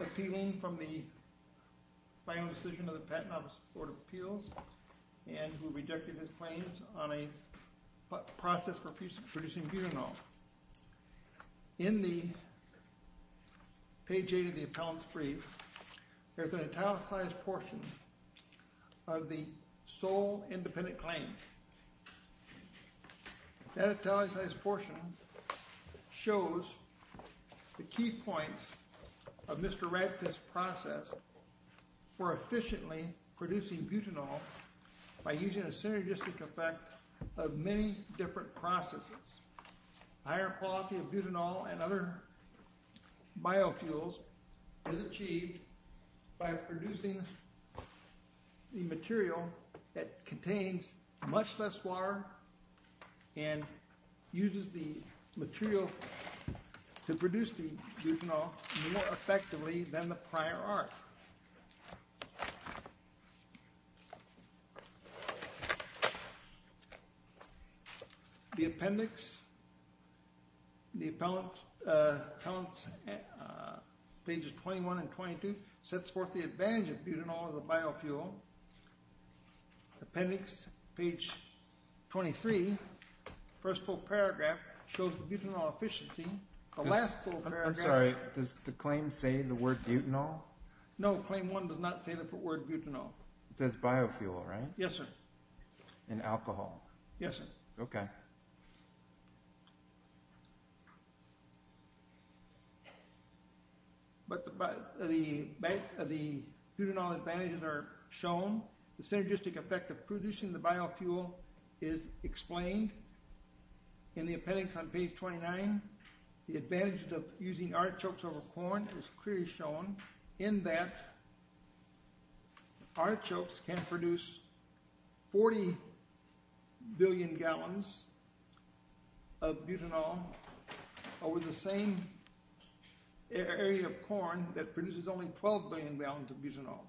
Appealing from the final decision of the Patent Office Board of Appeals and who rejected his claims on a process for producing butanol. In the page 8 of the appellant's brief, there's an italicized portion of the sole independent claim. That italicized portion shows the key points of Mr. Radcliffe's process for efficiently producing butanol by using a synergistic effect of many different processes. Higher quality of butanol and other biofuels is achieved by producing the material that contains much less water and uses the material to produce the butanol more effectively than the prior art. The appendix, the appellant's pages 21 and 22, sets forth the advantage of butanol as a biofuel. Appendix page 23, first full paragraph, shows the butanol efficiency. The last full paragraph... I'm sorry, does the claim say the word butanol? No, claim 1 does not say the word butanol. It says biofuel, right? Yes, sir. And alcohol. Yes, sir. Okay. But the butanol advantages are shown. The synergistic effect of producing the biofuel is explained in the appendix on page 29. The advantage of using artichokes over corn is clearly shown in that artichokes can produce 40 billion gallons of butanol over the same area of corn that produces only 12 billion gallons of butanol.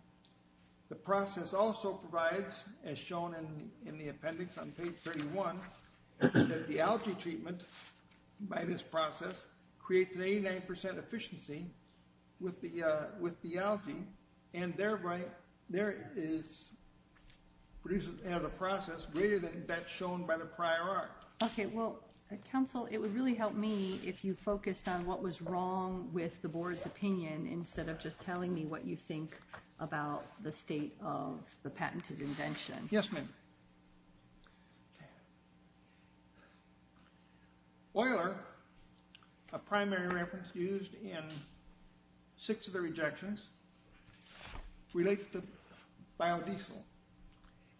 The process also provides, as shown in the appendix on page 31, that the algae treatment by this process creates an 89% efficiency with the algae and thereby there is a process greater than that shown by the prior art. Okay, well, counsel, it would really help me if you focused on what was wrong with the board's opinion instead of just telling me what you think about the state of the patented invention. Yes, ma'am. Euler, a primary reference used in six of the rejections, relates to biodiesel.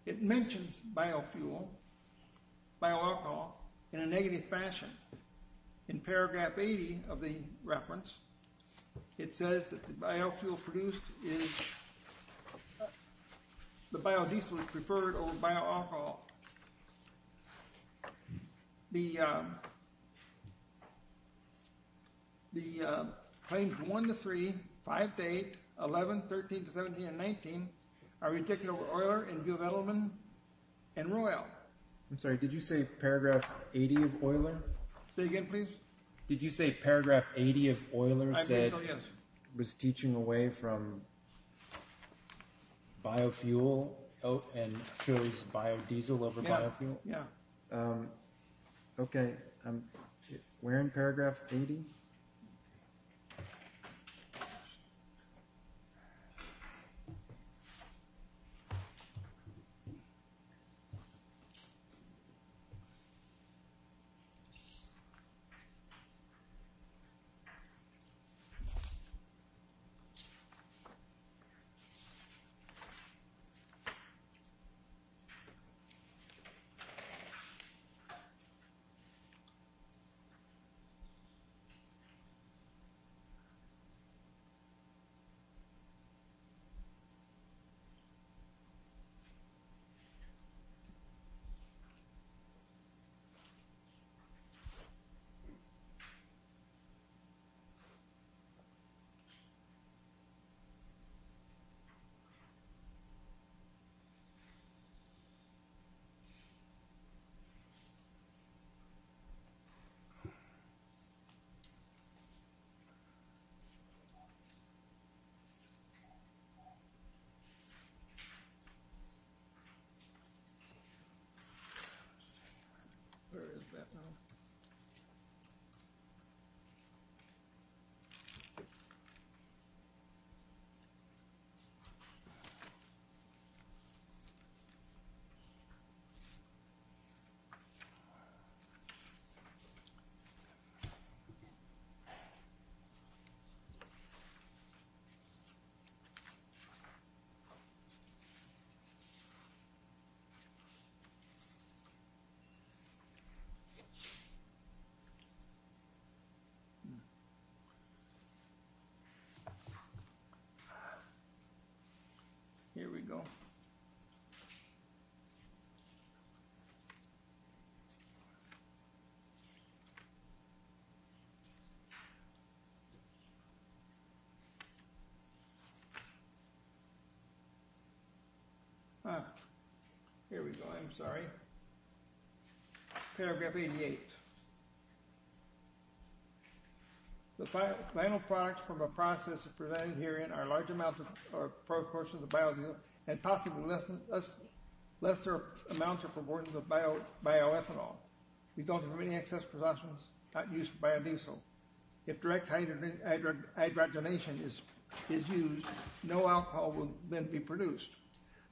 It mentions biofuel, bioalcohol, in a negative fashion. In paragraph 80 of the reference, it says that the biofuel produced is the biodiesel is preferred over bioalcohol. The claims 1 to 3, 5 to 8, 11, 13 to 17, and 19 are rejected over Euler in view of Edelman and Royal. I'm sorry, did you say paragraph 80 of Euler? Say again, please. Did you say paragraph 80 of Euler said it was teaching away from biofuel and chose biodiesel over biofuel? Yeah. Okay, we're in paragraph 80. Okay. Okay. Where is that now? Okay. Here we go. Ah, here we go, I'm sorry. Paragraph 88. The final products from a process presented herein are large amounts or proportions of biodiesel and possibly lesser amounts or proportions of bioethanol. We don't have any excess production not used for biodiesel. If direct hydrogenation is used, no alcohol will then be produced.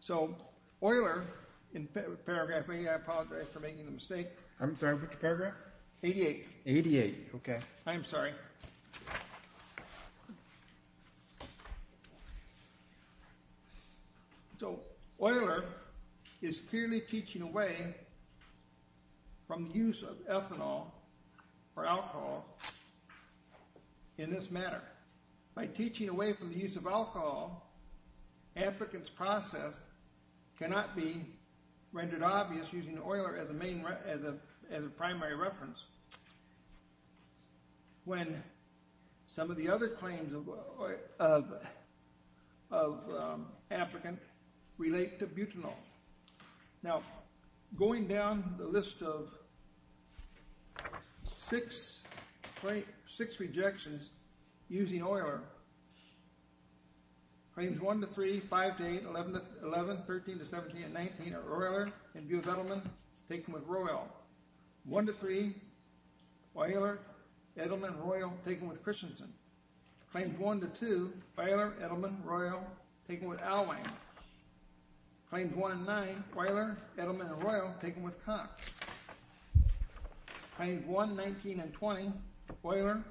So Euler, in paragraph 80, I apologize for making the mistake. I'm sorry, which paragraph? 88. 88, okay. I'm sorry. So Euler is purely teaching away from the use of ethanol or alcohol in this matter. By teaching away from the use of alcohol, applicants' process cannot be rendered obvious using Euler as a primary reference when some of the other claims of applicants relate to butanol. Now, going down the list of six rejections using Euler, Claims 1-3, 5-8, 11-11, 13-17, and 19 are Euler, Edelman, taken with Royal. 1-3, Euler, Edelman, Royal, taken with Christensen. Claims 1-2, Euler, Edelman, Royal, taken with Alwine. Claims 1-9, Euler, Edelman, Royal, taken with Cox. Claims 1-19 and 20, Euler,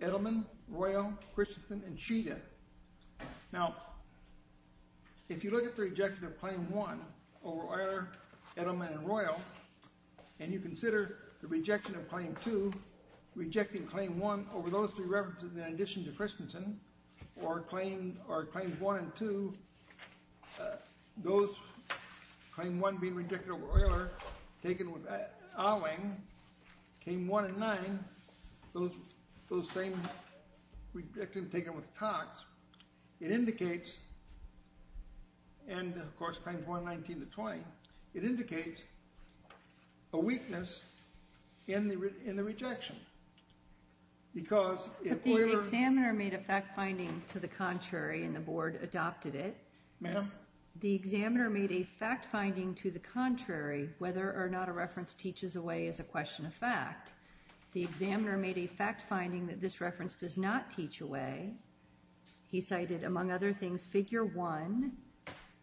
Edelman, Royal, Christensen, and Chita. Now, if you look at the rejection of Claim 1 over Euler, Edelman, and Royal and you consider the rejection of Claim 2, rejecting Claim 1 over those three references in addition to Christensen or Claims 1 and 2, those, Claim 1 being rejected over Euler, taken with Alwine, Claim 1 and 9, those same rejections taken with Cox, it indicates, and of course Claims 1, 19, and 20, it indicates a weakness in the rejection. Because if Euler... But the examiner made a fact-finding to the contrary and the board adopted it. Ma'am? The examiner made a fact-finding to the contrary, whether or not a reference teaches away as a question of fact. The examiner made a fact-finding that this reference does not teach away he cited, among other things, Figure 1,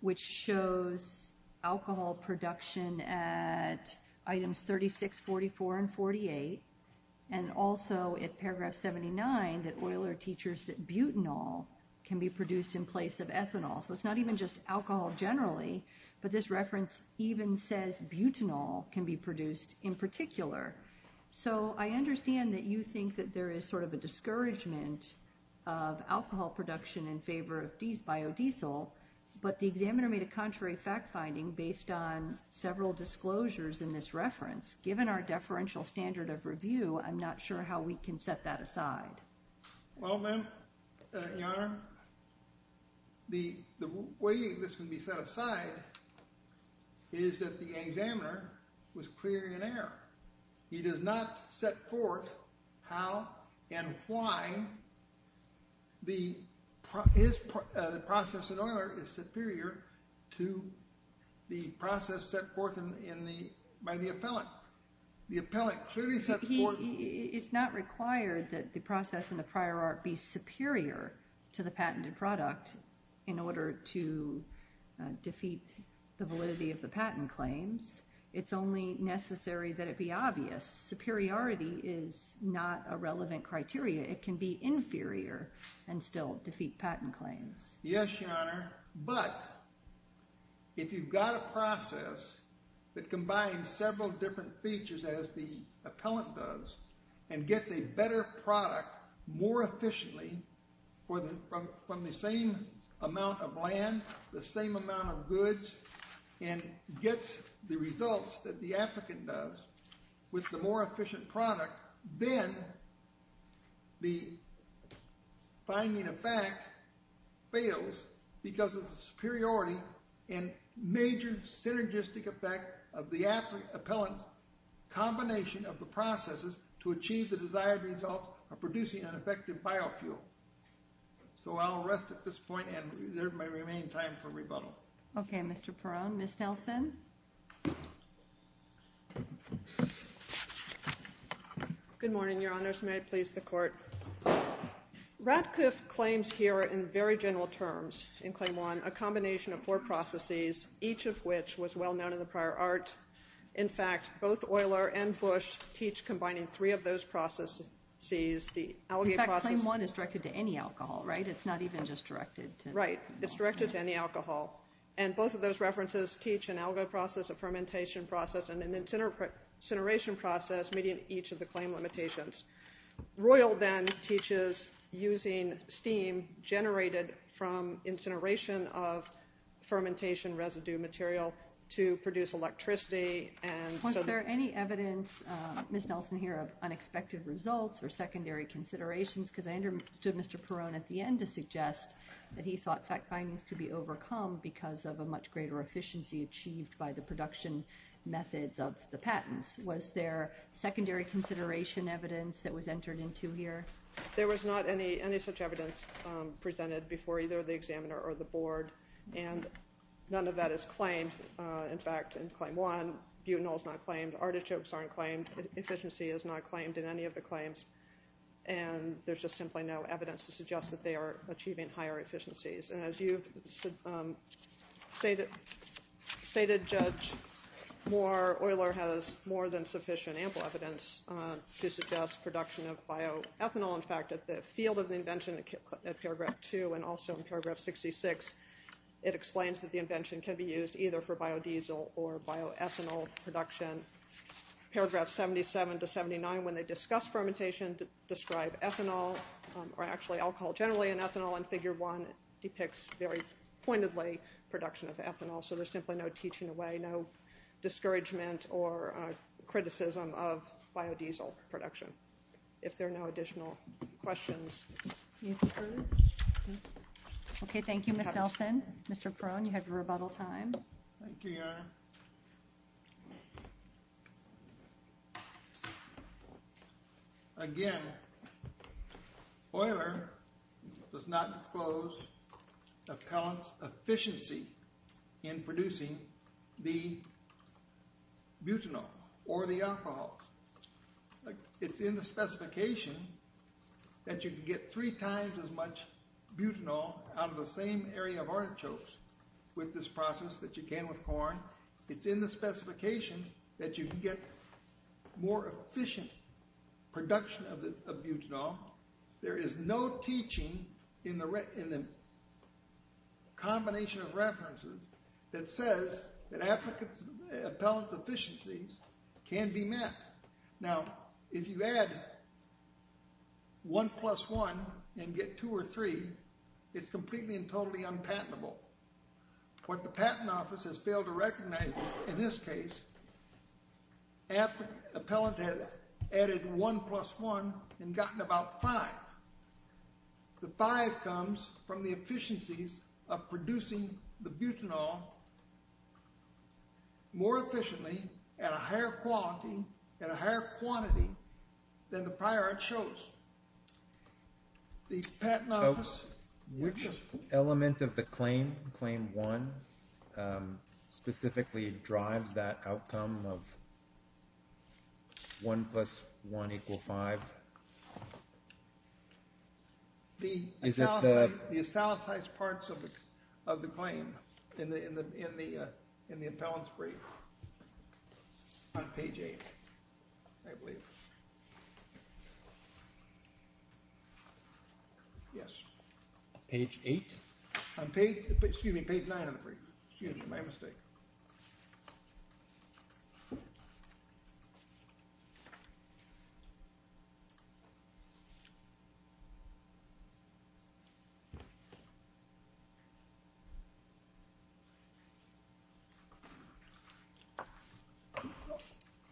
which shows alcohol production at Items 36, 44, and 48 and also at Paragraph 79 that Euler teaches that butanol can be produced in place of ethanol. So it's not even just alcohol generally, but this reference even says butanol can be produced in particular. So I understand that you think that there is sort of a discouragement of alcohol production in favor of biodiesel, but the examiner made a contrary fact-finding based on several disclosures in this reference. Given our deferential standard of review, I'm not sure how we can set that aside. Well, ma'am, Your Honor, the way this can be set aside is that the examiner was clear in error. He did not set forth how and why the process in Euler is superior to the process set forth by the appellant. The appellant clearly sets forth... It's not required that the process in the prior art be superior to the patented product in order to defeat the validity of the patent claims. It's only necessary that it be obvious. Superiority is not a relevant criteria. It can be inferior and still defeat patent claims. Yes, Your Honor, but if you've got a process that combines several different features as the appellant does and gets a better product more efficiently from the same amount of land, the same amount of goods, and gets the results that the applicant does with the more efficient product, then the finding of fact fails because of the superiority and major synergistic effect of the appellant's combination of the processes to achieve the desired result of producing an effective biofuel. So I'll rest at this point and there may remain time for rebuttal. Okay, Mr. Perone. Ms. Nelson? Good morning, Your Honors. May it please the Court. Radcliffe claims here in very general terms in Claim 1 a combination of four processes, each of which was well known in the prior art. In fact, both Euler and Bush teach combining three of those processes. In fact, Claim 1 is directed to any alcohol, right? It's not even just directed to... And both of those references teach an alga process, a fermentation process, and an incineration process meeting each of the claim limitations. Royal then teaches using steam generated from incineration of fermentation residue material to produce electricity and... Was there any evidence, Ms. Nelson here, of unexpected results or secondary considerations? Because I understood Mr. Perone at the end to suggest that he thought fact findings could be overcome because of a much greater efficiency achieved by the production methods of the patents. Was there secondary consideration evidence that was entered into here? There was not any such evidence presented before either the examiner or the Board, and none of that is claimed. In fact, in Claim 1, butanol's not claimed, artichokes aren't claimed, efficiency is not claimed in any of the claims, and there's just simply no evidence to suggest that they are achieving higher efficiencies. And as you've stated, Judge Moore, Euler has more than sufficient ample evidence to suggest production of bioethanol. In fact, at the field of the invention at Paragraph 2 and also in Paragraph 66, it explains that the invention can be used either for biodiesel or bioethanol production. Paragraph 77 to 79, when they discuss fermentation, describe ethanol, or actually alcohol generally in ethanol and Figure 1 depicts very pointedly production of ethanol, so there's simply no teaching away, no discouragement or criticism of biodiesel production. If there are no additional questions. Okay, thank you, Ms. Nelson. Mr. Perone, you have your rebuttal time. Thank you, Your Honor. Again, Euler does not disclose appellant's efficiency in producing the butanol or the alcohol. It's in the specification that you can get three times as much butanol out of the same area of artichokes with this process that you can It's in the specification that you can get more efficient production of butanol. There is no teaching in the combination of references that says that appellant's efficiencies can be met. Now, if you add 1 plus 1 and get 2 or 3, it's completely and totally unpatentable. What the Patent Office has failed to recognize in this case appellant has added 1 plus 1 and gotten about 5. The 5 comes from the efficiencies of producing the butanol more efficiently at a higher quality and a higher quantity than the prior artichokes. The Patent Office Which element of the claim, claim 1, specifically drives that outcome of 1 plus 1 equal 5? The estalatized parts of the claim in the appellant's brief on page 8 I believe. Yes. Page 8? Excuse me, page 9 of the brief. Excuse me, my mistake.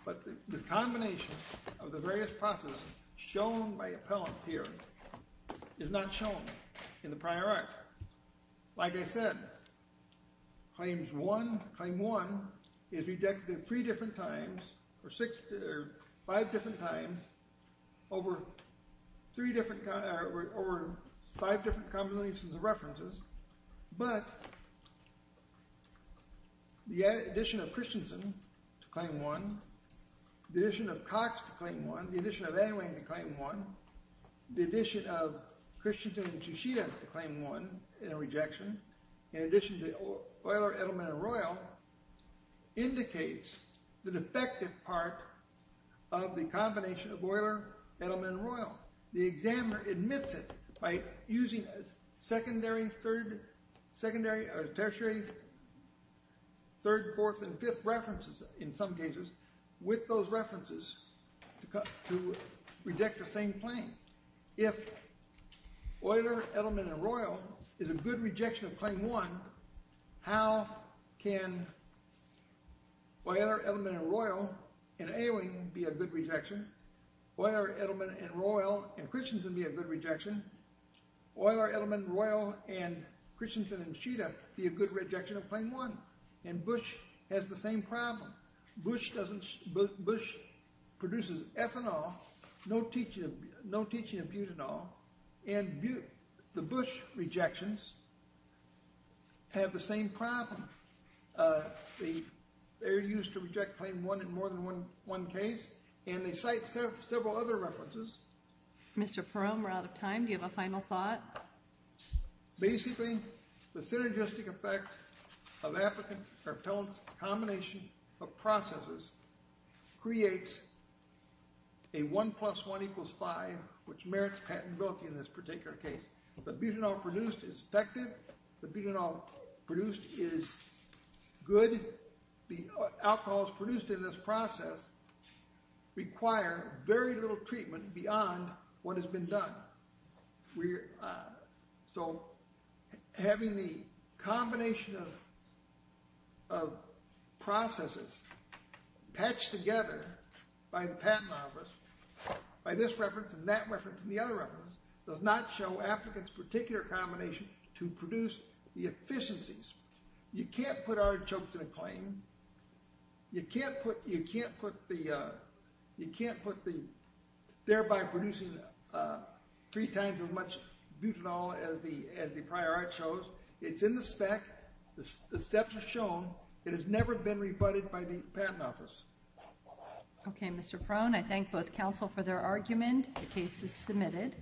But the combination of the various processes shown by appellant here is not shown in the prior art. Like I said, claim 1 is rejected 3 different times or 5 different times over 5 different combinations of references but the addition of Christensen to claim 1 the addition of Cox to claim 1 the addition of Ewing to claim 1 the addition of Christensen to Chichita to claim 1 in a rejection in addition to Euler, Edelman and Royal indicates the defective part of the combination of Euler Edelman and Royal. The examiner admits it by using secondary, third tertiary third, fourth and fifth references in some cases with those references to reject the same claim. If Euler, Edelman and Royal is a good rejection of claim 1 how can Euler, Edelman and Royal and Ewing be a good rejection Euler, Edelman and Royal and Christensen be a good rejection Euler, Edelman, Royal and Christensen and Chichita be a good rejection of claim 1 and Bush has the same problem Bush doesn't Bush produces ethanol no teaching of butanol and the Bush rejections have the same problem they're used to reject claim 1 in more than one case and they cite several other references Mr. Perum we're out of time do you have a final thought basically the synergistic effect of applicants combination of processes creates a 1 plus 1 equals 5 which merits patentability in this particular case the butanol produced is effective the butanol produced is good the alcohols produced in this process require very little treatment beyond what has been done we're so having the combination of of processes patched together by the patent office by this reference and that reference and the other reference does not show applicants particular combination to produce the efficiencies you can't put artichokes in a claim you can't put you can't put the you can't put the thereby producing 3 times as much butanol as the prior artichokes it's in the spec the steps are shown it has never been rebutted by the patent office ok Mr. Perum I thank both counsel for their argument the case is submitted